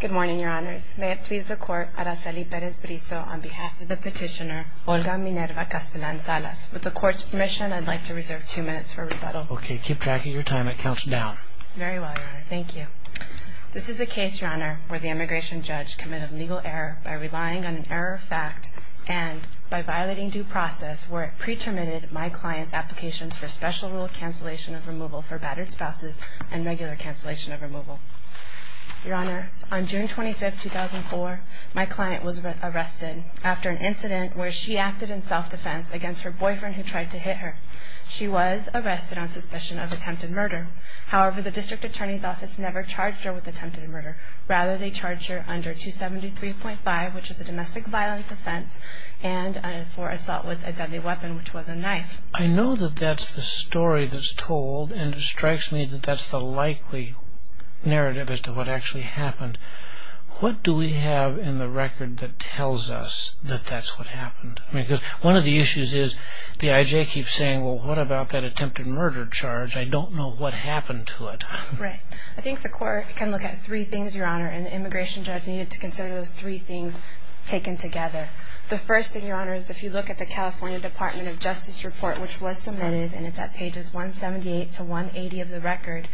Good morning, Your Honors. May it please the Court, Araceli Perez-Brizo, on behalf of the petitioner Olga Minerva Castelan Salas. With the Court's permission, I'd like to reserve two minutes for rebuttal. Okay. Keep track of your time. It counts down. Very well, Your Honor. Thank you. This is a case, Your Honor, where the immigration judge committed legal error by relying on an error of fact and by violating due process where it pre-terminated my client's applications for special rule cancellation of removal for battered spouses and regular cancellation of removal. Your Honor, on June 25, 2004, my client was arrested after an incident where she acted in self-defense against her boyfriend who tried to hit her. She was arrested on suspicion of attempted murder. However, the district attorney's office never charged her with attempted murder. Rather, they charged her under 273.5, which is a domestic violence offense, and for assault with a deadly weapon, which was a knife. I know that that's the story that's told, and it strikes me that that's the likely narrative as to what actually happened. What do we have in the record that tells us that that's what happened? Because one of the issues is the I.J. keeps saying, well, what about that attempted murder charge? I don't know what happened to it. Right. I think the Court can look at three things, Your Honor, and the immigration judge needed to consider those three things taken together. The first thing, Your Honor, is if you look at the California Department of Justice report, which was submitted, and it's at pages 178 to 180 of the record,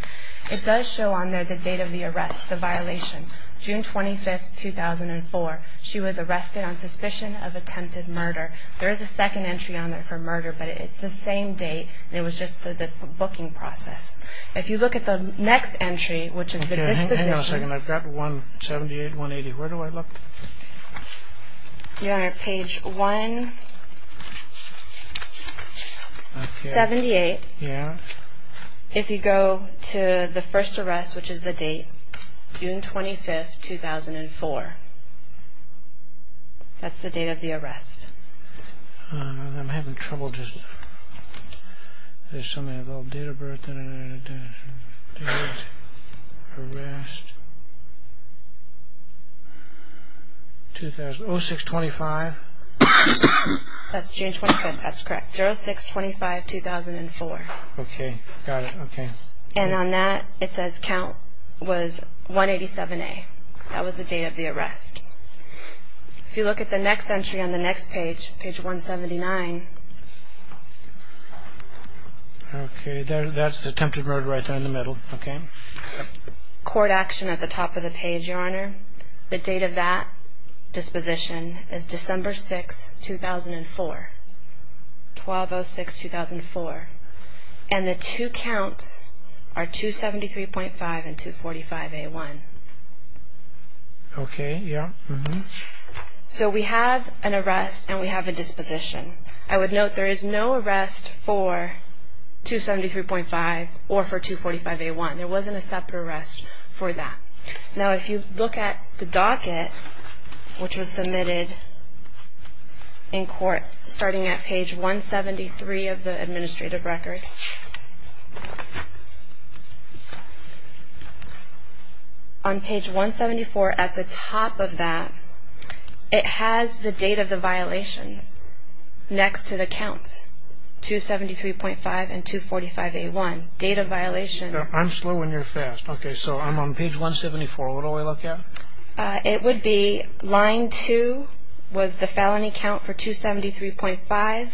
it does show on there the date of the arrest, the violation, June 25, 2004. She was arrested on suspicion of attempted murder. There is a second entry on there for murder, but it's the same date, and it was just the booking process. If you look at the next entry, which is the disposition. Hang on a second. I've got 178, 180. Where do I look? Your Honor, page 178. Yeah. If you go to the first arrest, which is the date, June 25, 2004, that's the date of the arrest. I'm having trouble just... There's something about date of birth... Arrest... 2000...0625? That's June 25. That's correct. 0625, 2004. Okay. Got it. Okay. And on that, it says count was 187A. That was the date of the arrest. If you look at the next entry on the next page, page 179... Okay. That's attempted murder right there in the middle. Okay. Court action at the top of the page, Your Honor. The date of that disposition is December 6, 2004. 1206, 2004. And the two counts are 273.5 and 245A1. Okay. Yeah. So we have an arrest and we have a disposition. I would note there is no arrest for 273.5 or for 245A1. There wasn't a separate arrest for that. Now, if you look at the docket, which was submitted in court, starting at page 173 of the administrative record... on page 174 at the top of that, it has the date of the violations next to the counts, 273.5 and 245A1. Date of violation... I'm slow and you're fast. Okay. So I'm on page 174. What do I look at? It would be line 2 was the felony count for 273.5,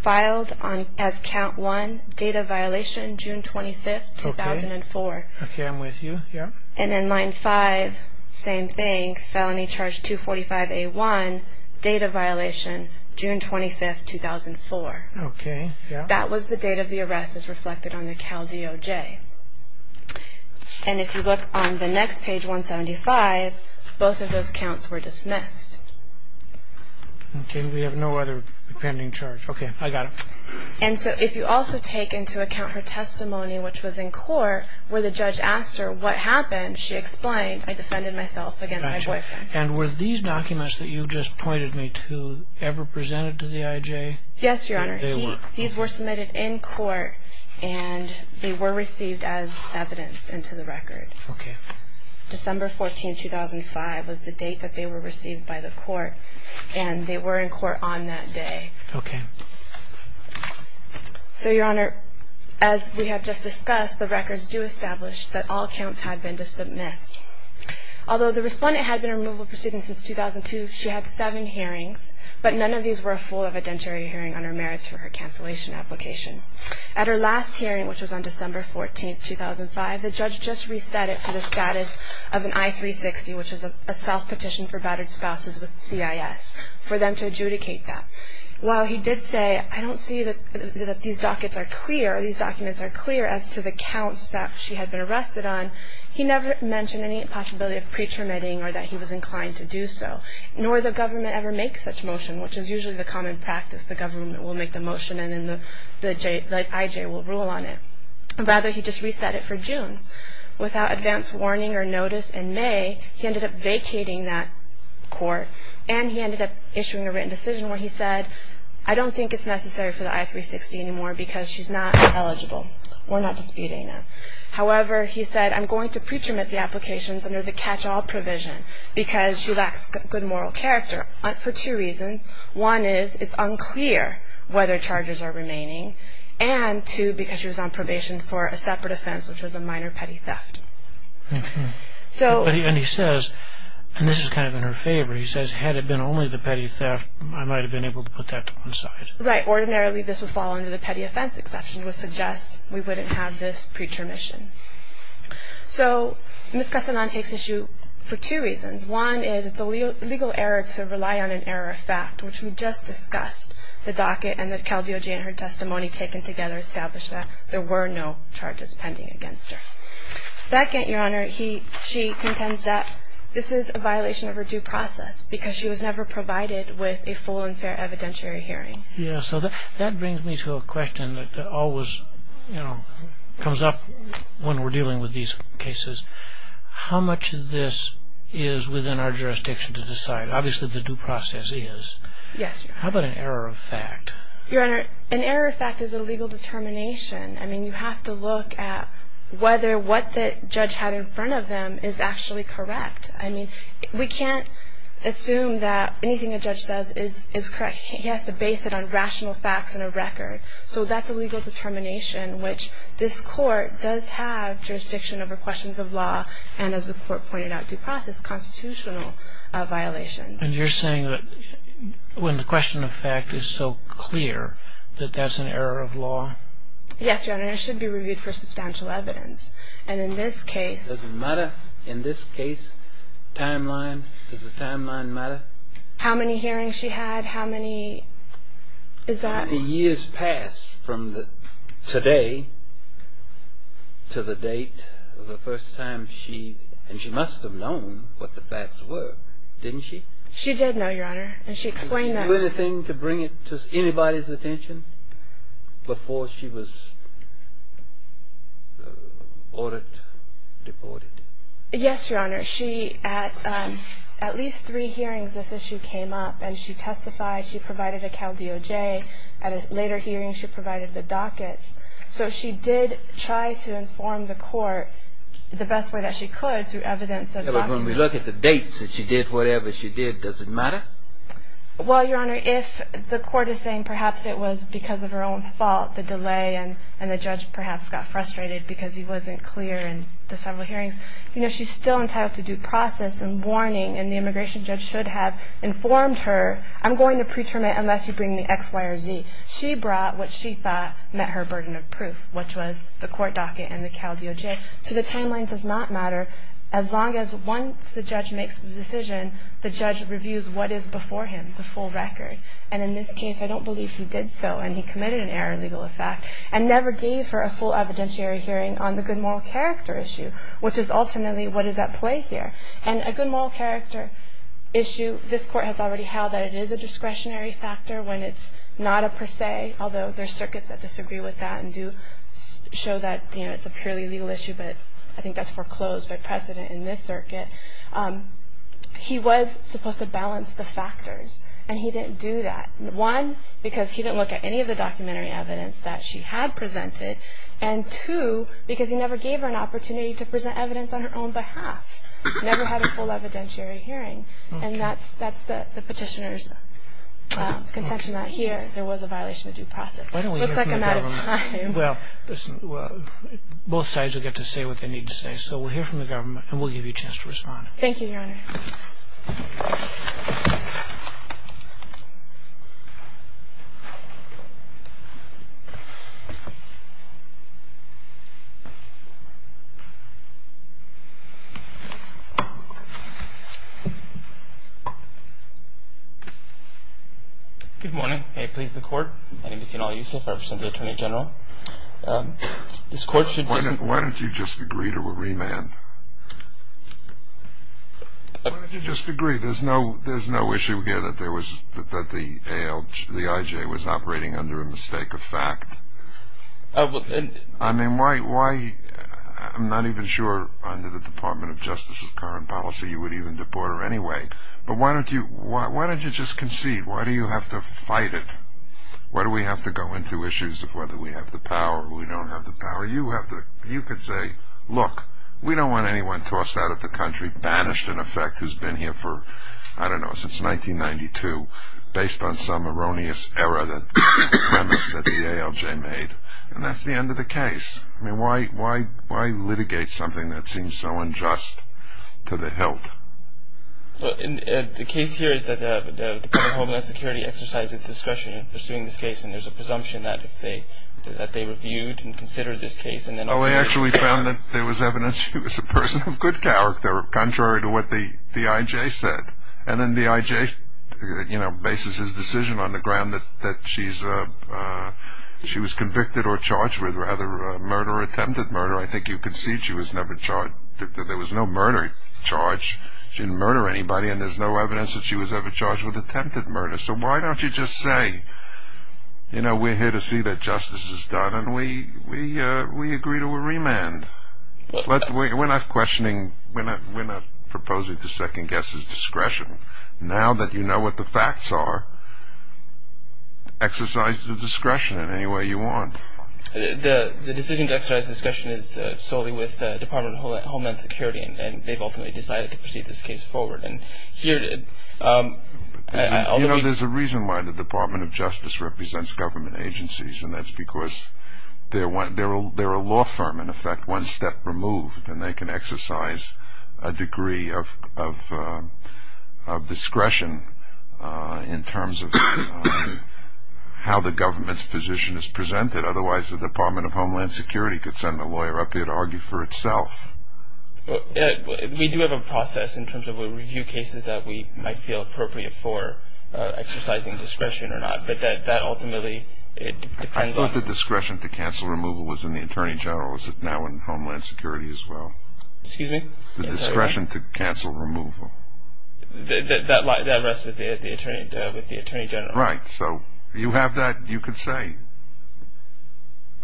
filed as count 1, date of violation June 25, 2004. Okay. I'm with you. Yeah. And then line 5, same thing, felony charge 245A1, date of violation June 25, 2004. Okay. Yeah. That was the date of the arrest as reflected on the CalDOJ. And if you look on the next page, 175, both of those counts were dismissed. Okay. We have no other pending charge. Okay. I got it. And so if you also take into account her testimony, which was in court, where the judge asked her what happened, she explained, I defended myself against my boyfriend. And were these documents that you just pointed me to ever presented to the IJ? Yes, Your Honor. They were. These were submitted in court and they were received as evidence into the record. Okay. December 14, 2005 was the date that they were received by the court, and they were in court on that day. Okay. So, Your Honor, as we have just discussed, the records do establish that all counts had been dismissed. Although the respondent had been in removal proceedings since 2002, she had seven hearings, but none of these were a full evidentiary hearing on her merits for her cancellation application. At her last hearing, which was on December 14, 2005, the judge just reset it to the status of an I-360, which is a self-petition for battered spouses with CIS, for them to adjudicate that. While he did say, I don't see that these dockets are clear, these documents are clear as to the counts that she had been arrested on, he never mentioned any possibility of pre-terminating or that he was inclined to do so, nor did the government ever make such motion, which is usually the common practice. The government will make the motion and then the IJ will rule on it. Rather, he just reset it for June. Without advance warning or notice in May, he ended up vacating that court, and he ended up issuing a written decision where he said, I don't think it's necessary for the I-360 anymore because she's not eligible. We're not disputing it. However, he said, I'm going to pre-terminate the applications under the catch-all provision because she lacks good moral character for two reasons. One is, it's unclear whether charges are remaining, and two, because she was on probation for a separate offense, which was a minor petty theft. And he says, and this is kind of in her favor, he says, had it been only the petty theft, I might have been able to put that to one side. Right. Ordinarily, this would fall under the petty offense exception, which would suggest we wouldn't have this pre-termission. So Ms. Casalan takes issue for two reasons. One is, it's a legal error to rely on an error of fact, which we just discussed. The docket and the caldeology in her testimony taken together established that there were no charges pending against her. Second, Your Honor, she contends that this is a violation of her due process because she was never provided with a full and fair evidentiary hearing. Yeah, so that brings me to a question that always, you know, comes up when we're dealing with these cases. How much of this is within our jurisdiction to decide? Obviously, the due process is. Yes, Your Honor. How about an error of fact? Your Honor, an error of fact is a legal determination. I mean, you have to look at whether what the judge had in front of them is actually correct. I mean, we can't assume that anything a judge says is correct. He has to base it on rational facts and a record. So that's a legal determination, which this Court does have jurisdiction over questions of law and, as the Court pointed out, due process constitutional violations. And you're saying that when the question of fact is so clear that that's an error of law? Yes, Your Honor. It should be reviewed for substantial evidence. And in this case... Does it matter? In this case, timeline, does the timeline matter? How many hearings she had, how many, is that... How many years passed from today to the date of the first time she, and she must have known what the facts were, didn't she? She did know, Your Honor, and she explained that... Did she do anything to bring it to anybody's attention before she was ordered, deported? Yes, Your Honor. At least three hearings this issue came up and she testified. She provided a Cal DOJ. At a later hearing, she provided the dockets. So she did try to inform the Court the best way that she could through evidence... When we look at the dates that she did whatever she did, does it matter? Well, Your Honor, if the Court is saying perhaps it was because of her own fault, the delay, and the judge perhaps got frustrated because he wasn't clear in the several hearings, you know, she's still entitled to due process and warning, and the immigration judge should have informed her, I'm going to pre-terminate unless you bring me X, Y, or Z. She brought what she thought met her burden of proof, which was the Court docket and the Cal DOJ. So the timeline does not matter as long as once the judge makes the decision, the judge reviews what is before him, the full record. And in this case, I don't believe he did so and he committed an error in legal effect and never gave for a full evidentiary hearing on the good moral character issue, which is ultimately what is at play here. And a good moral character issue, this Court has already held that it is a discretionary factor when it's not a per se, although there are circuits that disagree with that and do show that, you know, it's a purely legal issue, but I think that's foreclosed by precedent in this circuit. He was supposed to balance the factors, and he didn't do that. One, because he didn't look at any of the documentary evidence that she had presented, and two, because he never gave her an opportunity to present evidence on her own behalf, never had a full evidentiary hearing, and that's the petitioner's contention that here there was a violation of due process. It looks like I'm out of time. Well, listen, both sides will get to say what they need to say, so we'll hear from the government and we'll give you a chance to respond. Thank you, Your Honor. Good morning. May it please the Court. My name is Yanal Yusuf. I represent the Attorney General. Why don't you just agree to a remand? Why don't you just agree? There's no issue here that the IJ was operating under a mistake of fact. I mean, why? I'm not even sure under the Department of Justice's current policy you would even deport her anyway, but why don't you just concede? Why do you have to fight it? Why do we have to go into issues of whether we have the power or we don't have the power? You could say, look, we don't want anyone tossed out of the country, banished, in effect, who's been here for, I don't know, since 1992 based on some erroneous error that the ALJ made, and that's the end of the case. I mean, why litigate something that seems so unjust to the hilt? The case here is that the Department of Homeland Security exercised its discretion in pursuing this case, and there's a presumption that they reviewed and considered this case. Oh, they actually found that there was evidence she was a person of good character, contrary to what the IJ said. And then the IJ, you know, bases his decision on the ground that she was convicted or charged with, rather, murder or attempted murder. I think you concede she was never charged. There was no murder charge. She didn't murder anybody, and there's no evidence that she was ever charged with attempted murder. So why don't you just say, you know, we're here to see that justice is done, and we agree to a remand. We're not questioning, we're not proposing to second-guess his discretion. Now that you know what the facts are, exercise the discretion in any way you want. The decision to exercise discretion is solely with the Department of Homeland Security, and they've ultimately decided to proceed this case forward. You know, there's a reason why the Department of Justice represents government agencies, and that's because they're a law firm, in effect, one step removed, and they can exercise a degree of discretion in terms of how the government's position is presented. Otherwise, the Department of Homeland Security could send a lawyer up here to argue for itself. We do have a process in terms of a review cases that we might feel appropriate for exercising discretion or not, but that ultimately, it depends on. The discretion to cancel removal was in the Attorney General, is it now in Homeland Security as well? Excuse me? The discretion to cancel removal. That rests with the Attorney General. Right, so you have that, you could say,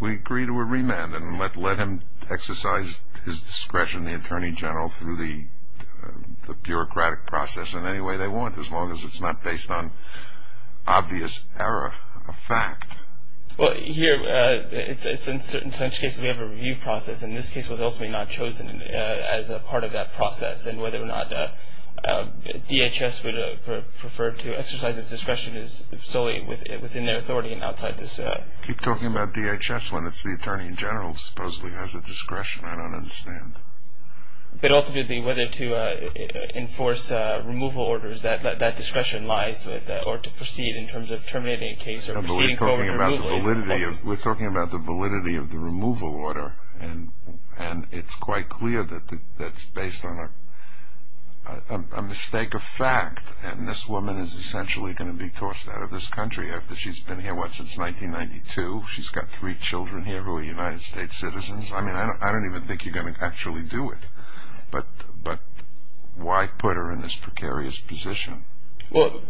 we agree to a remand, and let him exercise his discretion, the Attorney General, through the bureaucratic process in any way they want, as long as it's not based on obvious error of fact. Well, here, it's in certain such cases we have a review process, and this case was ultimately not chosen as a part of that process, and whether or not DHS would prefer to exercise its discretion is solely within their authority and outside this. Keep talking about DHS when it's the Attorney General who supposedly has the discretion. I don't understand. But ultimately, whether to enforce removal orders, that discretion lies with, or to proceed in terms of terminating a case or proceeding forward with removal. We're talking about the validity of the removal order, and it's quite clear that that's based on a mistake of fact, and this woman is essentially going to be tossed out of this country after she's been here, what, since 1992? She's got three children here who are United States citizens. I mean, I don't even think you're going to actually do it. But why put her in this precarious position? Well,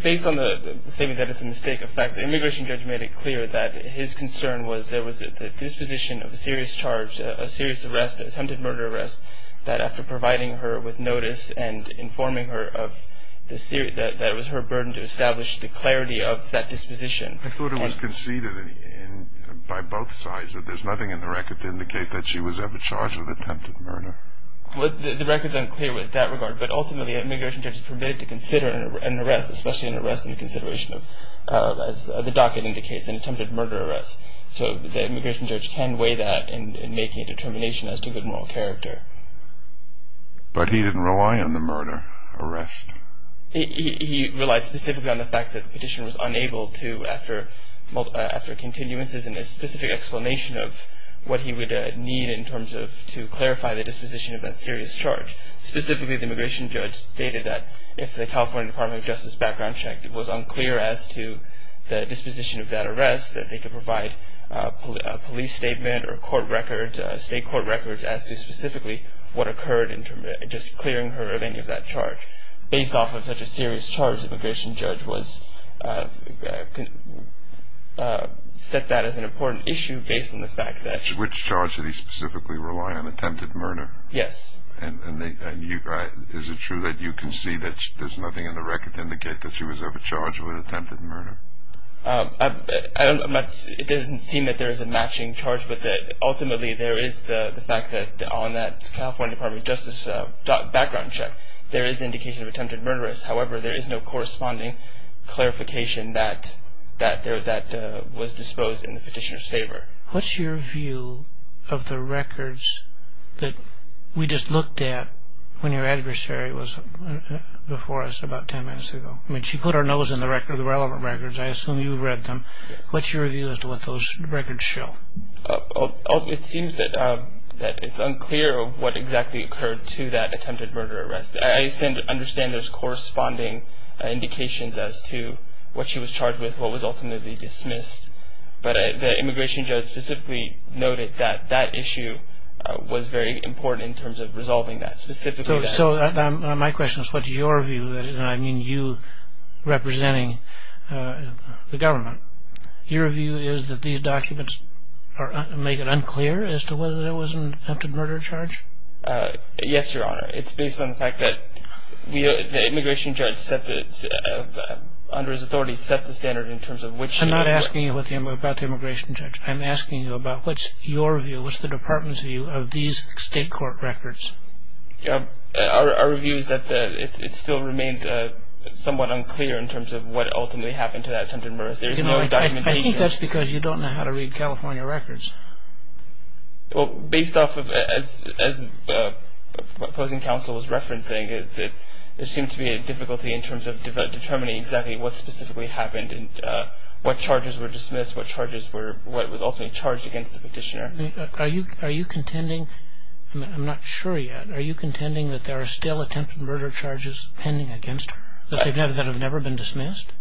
based on the statement that it's a mistake of fact, the immigration judge made it clear that his concern was there was a disposition of a serious charge, a serious arrest, an attempted murder arrest, that after providing her with notice and informing her of the serious, that it was her burden to establish the clarity of that disposition. I thought it was conceded by both sides that there's nothing in the record to indicate that she was ever charged with attempted murder. Well, the record's unclear with that regard, but ultimately an immigration judge is permitted to consider an arrest, especially an arrest in consideration of, as the docket indicates, an attempted murder arrest. So the immigration judge can weigh that in making a determination as to good moral character. But he didn't rely on the murder arrest. He relied specifically on the fact that the petitioner was unable to, after continuances and a specific explanation of what he would need in terms of to clarify the disposition of that serious charge. Specifically, the immigration judge stated that if the California Department of Justice background check was unclear as to the disposition of that arrest, that they could provide a police statement or state court records as to specifically what occurred in just clearing her of any of that charge. Based off of such a serious charge, the immigration judge set that as an important issue based on the fact that Which charge did he specifically rely on, attempted murder? Yes. And is it true that you can see that there's nothing in the record to indicate that she was ever charged with attempted murder? I don't know much. It doesn't seem that there is a matching charge with it. Ultimately, there is the fact that on that California Department of Justice background check, there is indication of attempted murderess. However, there is no corresponding clarification that was disposed in the petitioner's favor. What's your view of the records that we just looked at when your adversary was before us about ten minutes ago? I mean, she put her nose in the relevant records. I assume you've read them. What's your view as to what those records show? It seems that it's unclear of what exactly occurred to that attempted murder arrest. I understand there's corresponding indications as to what she was charged with, what was ultimately dismissed. But the immigration judge specifically noted that that issue was very important in terms of resolving that. So my question is, what's your view? And I mean you representing the government. Your view is that these documents make it unclear as to whether there was an attempted murder charge? Yes, Your Honor. It's based on the fact that the immigration judge under his authority set the standard in terms of which I'm not asking you about the immigration judge. I'm asking you about what's your view, what's the department's view of these state court records? Our view is that it still remains somewhat unclear in terms of what ultimately happened to that attempted murder. I think that's because you don't know how to read California records. Based off of what opposing counsel was referencing, there seems to be a difficulty in terms of determining exactly what specifically happened and what charges were dismissed, what charges were ultimately charged against the petitioner. Are you contending, I'm not sure yet, are you contending that there are still attempted murder charges pending against her that have never been dismissed?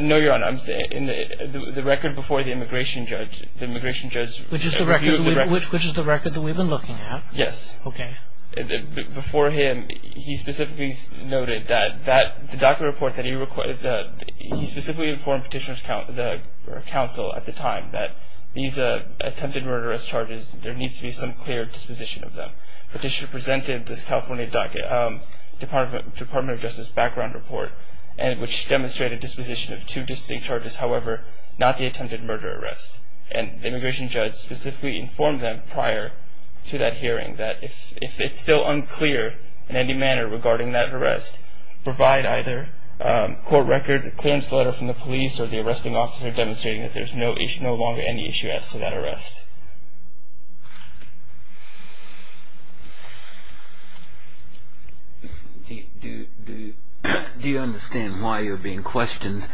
No, Your Honor. The record before the immigration judge, the immigration judge... Which is the record that we've been looking at? Yes. Okay. Before him, he specifically noted that the DACA report that he requested, he specifically informed Petitioner's counsel at the time that these attempted murder charges, there needs to be some clear disposition of them. Petitioner presented this California Department of Justice background report, which demonstrated disposition of two distinct charges, however, not the attempted murder arrest. And the immigration judge specifically informed them prior to that hearing that if it's still unclear in any manner regarding that arrest, provide either court records, a clearance letter from the police, or the arresting officer demonstrating that there's no longer any issue as to that arrest. Do you understand why you're being questioned?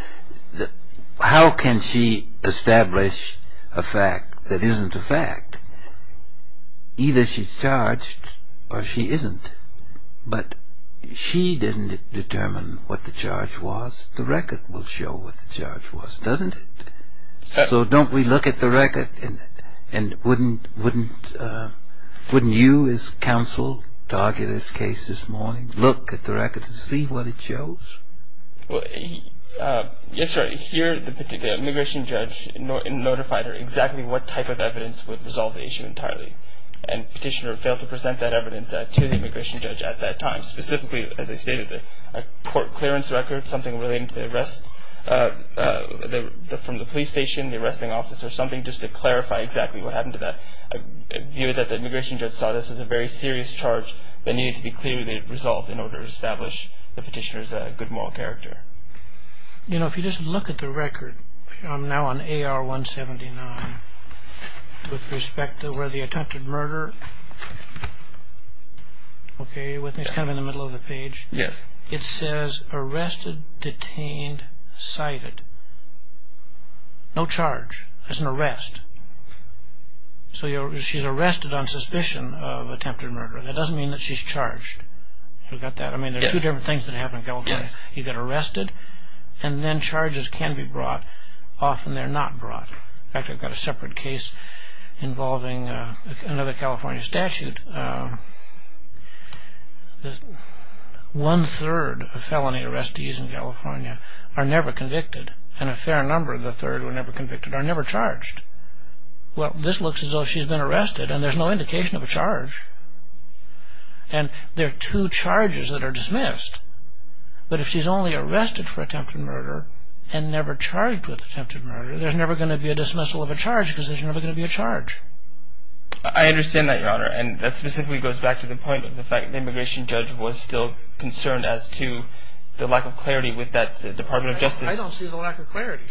How can she establish a fact that isn't a fact? Either she's charged or she isn't. But she didn't determine what the charge was. The record will show what the charge was, doesn't it? So don't we look at the record and wouldn't you, as counsel, target his case this morning, look at the record and see what it shows? Yes, sir. Here the immigration judge notified her exactly what type of evidence would resolve the issue entirely. And Petitioner failed to present that evidence to the immigration judge at that time, specifically, as I stated, a court clearance record, something related to the arrest from the police station, the arresting officer, something just to clarify exactly what happened to that. I view that the immigration judge saw this as a very serious charge that needed to be clearly resolved in order to establish the petitioner's good moral character. You know, if you just look at the record, I'm now on AR-179, with respect to where the attempted murder, okay, are you with me? It's kind of in the middle of the page. Yes. It says arrested, detained, cited. No charge. It's an arrest. So she's arrested on suspicion of attempted murder. That doesn't mean that she's charged. You got that? Yes. I mean, there are two different things that happen in California. Yes. You get arrested, and then charges can be brought. Often they're not brought. In fact, I've got a separate case involving another California statute. One-third of felony arrestees in California are never convicted, and a fair number of the third who are never convicted are never charged. Well, this looks as though she's been arrested, and there's no indication of a charge. And there are two charges that are dismissed. But if she's only arrested for attempted murder and never charged with attempted murder, there's never going to be a dismissal of a charge because there's never going to be a charge. I understand that, Your Honor, and that specifically goes back to the point of the fact that the immigration judge was still concerned as to the lack of clarity with that Department of Justice. I don't see the lack of clarity.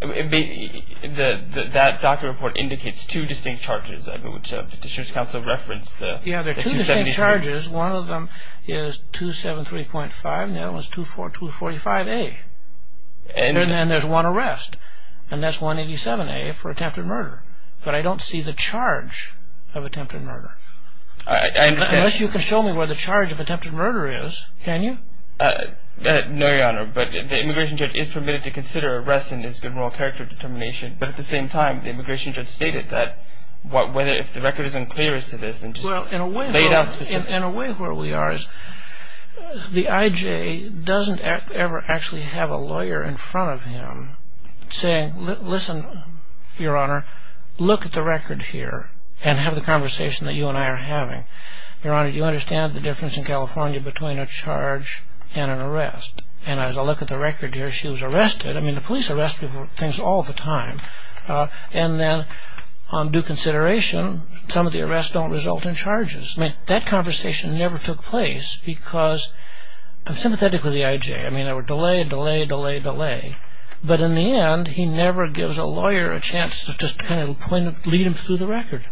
That docket report indicates two distinct charges, which Petitioner's Counsel referenced. Yes, there are two distinct charges. One of them is 273.5, and the other one is 245A. And then there's one arrest, and that's 187A for attempted murder. But I don't see the charge of attempted murder. Unless you can show me where the charge of attempted murder is, can you? No, Your Honor, but the immigration judge is permitted to consider arrest in his general character determination. But at the same time, the immigration judge stated that if the record is unclear as to this and just laid out specifically. Well, in a way where we are is the I.J. doesn't ever actually have a lawyer in front of him saying, listen, Your Honor, look at the record here and have the conversation that you and I are having. Your Honor, do you understand the difference in California between a charge and an arrest? And as I look at the record here, she was arrested. I mean, the police arrest people all the time. And then on due consideration, some of the arrests don't result in charges. I mean, that conversation never took place because I'm sympathetic with the I.J. I mean, there were delay, delay, delay, delay. But in the end, he never gives a lawyer a chance to just kind of lead him through the record.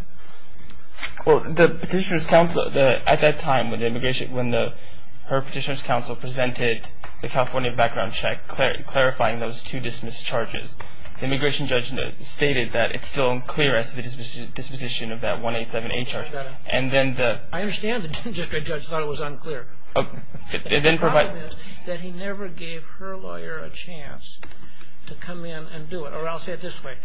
Well, the petitioner's counsel, at that time when the immigration, when her petitioner's counsel presented the California background check clarifying those two dismissed charges, the immigration judge stated that it's still unclear as to the disposition of that 187A charge. And then the... I understand the district judge thought it was unclear. The problem is that he never gave her lawyer a chance to come in and do it. Or I'll say it this way.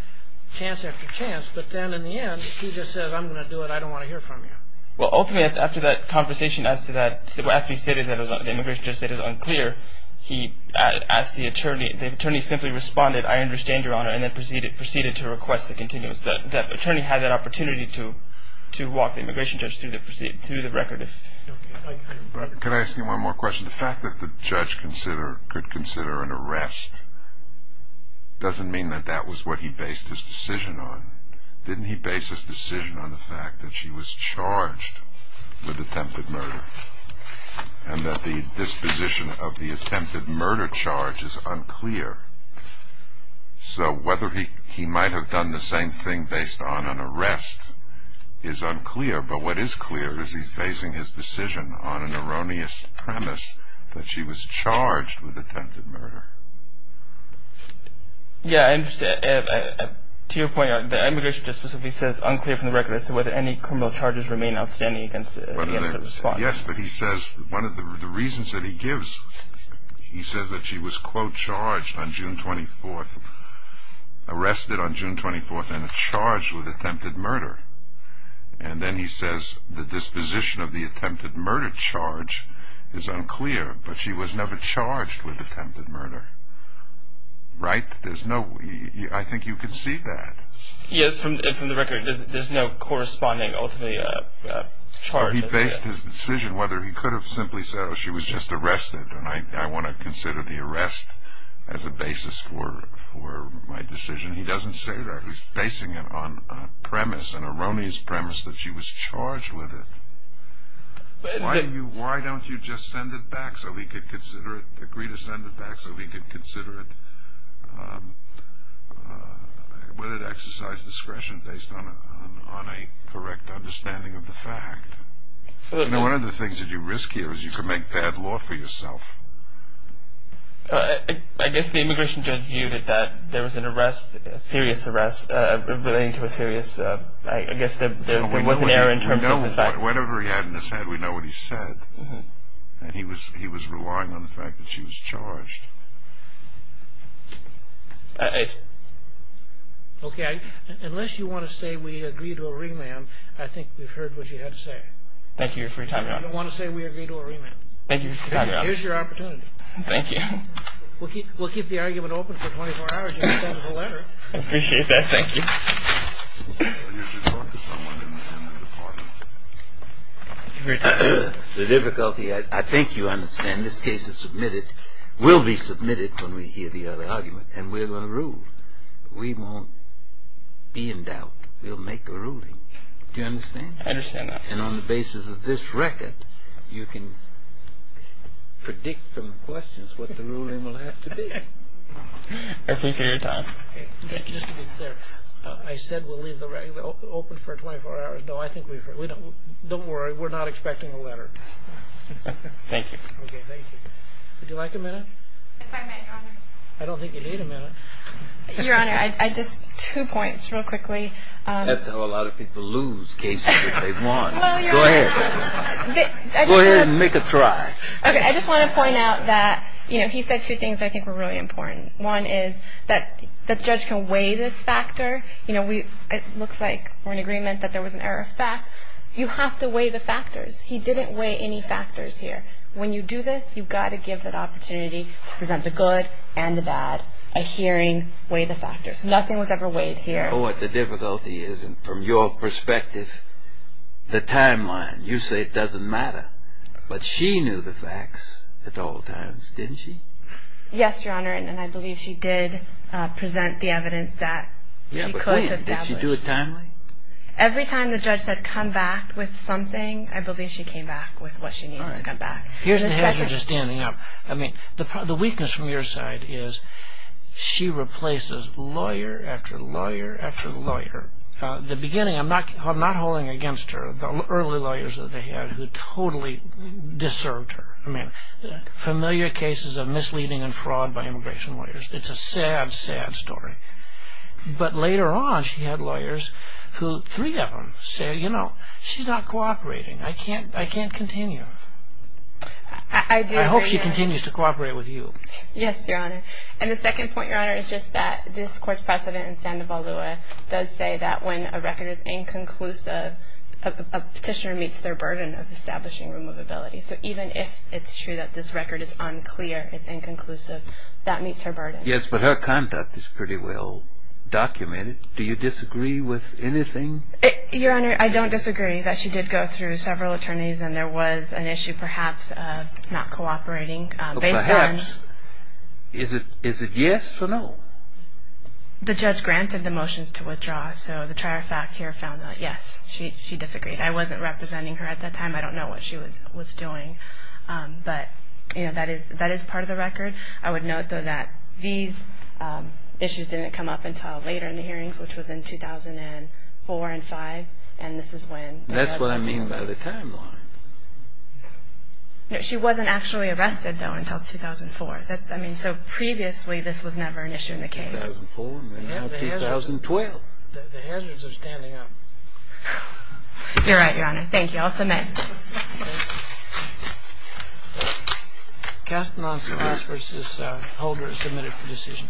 Chance after chance. But then in the end, he just says, I'm going to do it. I don't want to hear from you. Well, ultimately, after that conversation, as to that, after he stated that the immigration judge stated it was unclear, he asked the attorney. The attorney simply responded, I understand, Your Honor, and then proceeded to request the continuous. That attorney had that opportunity to walk the immigration judge through the record. Could I ask you one more question? The fact that the judge could consider an arrest doesn't mean that that was what he based his decision on. Didn't he base his decision on the fact that she was charged with attempted murder and that the disposition of the attempted murder charge is unclear? So whether he might have done the same thing based on an arrest is unclear, but what is clear is he's basing his decision on an erroneous premise that she was charged with attempted murder. Yeah, I understand. To your point, the immigration judge specifically says unclear from the record as to whether any criminal charges remain outstanding against such a spot. Yes, but he says one of the reasons that he gives, he says that she was, quote, charged on June 24th, arrested on June 24th and charged with attempted murder. And then he says the disposition of the attempted murder charge is unclear, but she was never charged with attempted murder. Right? There's no, I think you can see that. Yes, and from the record, there's no corresponding, ultimately, charge. He based his decision, whether he could have simply said, oh, she was just arrested, and I want to consider the arrest as a basis for my decision. He doesn't say that. He's basing it on premise, an erroneous premise that she was charged with it. Why don't you just send it back so he could consider it, agree to send it back so he could consider it, whether to exercise discretion based on a correct understanding of the fact? You know, one of the things that you risk here is you could make bad law for yourself. I guess the immigration judge viewed it that there was an arrest, a serious arrest relating to a serious, I guess there was an error in terms of his act. Whatever he had in his head, we know what he said. And he was relying on the fact that she was charged. Okay. Unless you want to say we agree to a remand, I think we've heard what you had to say. Thank you for your time, Your Honor. I don't want to say we agree to a remand. Thank you for your time, Your Honor. Here's your opportunity. Thank you. We'll keep the argument open for 24 hours. You can send us a letter. I appreciate that. Thank you. You should talk to someone in the Senate Department. The difficulty, I think you understand, this case is submitted, will be submitted when we hear the other argument, and we're going to rule. We won't be in doubt. We'll make a ruling. Do you understand? I understand that. And on the basis of this record, you can predict from the questions what the ruling will have to be. Thank you for your time. Just to be clear, I said we'll leave the argument open for 24 hours. No, I think we've heard. Don't worry. We're not expecting a letter. Thank you. Thank you. Would you like a minute? If I may, Your Honors. I don't think you need a minute. Your Honor, just two points real quickly. That's how a lot of people lose cases if they've won. Go ahead. Go ahead and make a try. Okay. I just want to point out that, you know, he said two things I think were really important. One is that the judge can weigh this factor. You know, it looks like we're in agreement that there was an error of fact. You have to weigh the factors. He didn't weigh any factors here. When you do this, you've got to give that opportunity to present the good and the bad. A hearing, weigh the factors. Nothing was ever weighed here. You know what the difficulty is? And from your perspective, the timeline, you say it doesn't matter. But she knew the facts at all times, didn't she? Yes, Your Honor, and I believe she did present the evidence that she could establish. Yeah, but wait. Did she do it timely? Every time the judge said come back with something, I believe she came back with what she needed to come back. All right. Here's the hazards of standing up. The weakness from your side is she replaces lawyer after lawyer after lawyer. In the beginning, I'm not holding against her. The early lawyers that they had totally deserved her. Familiar cases of misleading and fraud by immigration lawyers. It's a sad, sad story. But later on, she had lawyers who, three of them, said, you know, she's not cooperating. I can't continue. I do agree. I hope she continues to cooperate with you. Yes, Your Honor. And the second point, Your Honor, is just that this court's precedent in Sandoval-Lewis does say that when a record is inconclusive, a petitioner meets their burden of establishing removability. So even if it's true that this record is unclear, it's inconclusive, that meets her burden. Yes, but her conduct is pretty well documented. Do you disagree with anything? Your Honor, I don't disagree that she did go through several attorneys and there was an issue perhaps of not cooperating. Perhaps. Is it yes or no? The judge granted the motions to withdraw, so the trier-fac here found that, yes, she disagreed. I wasn't representing her at that time. I don't know what she was doing. But, you know, that is part of the record. I would note, though, that these issues didn't come up until later in the hearings, which was in 2004 and 2005, That's what I mean by the timeline. No, she wasn't actually arrested, though, until 2004. I mean, so previously this was never an issue in the case. 2004, and now 2012. The hazards are standing up. You're right, Your Honor. Thank you. I'll submit. Thank you. Kaspermans versus Holder is submitted for decision.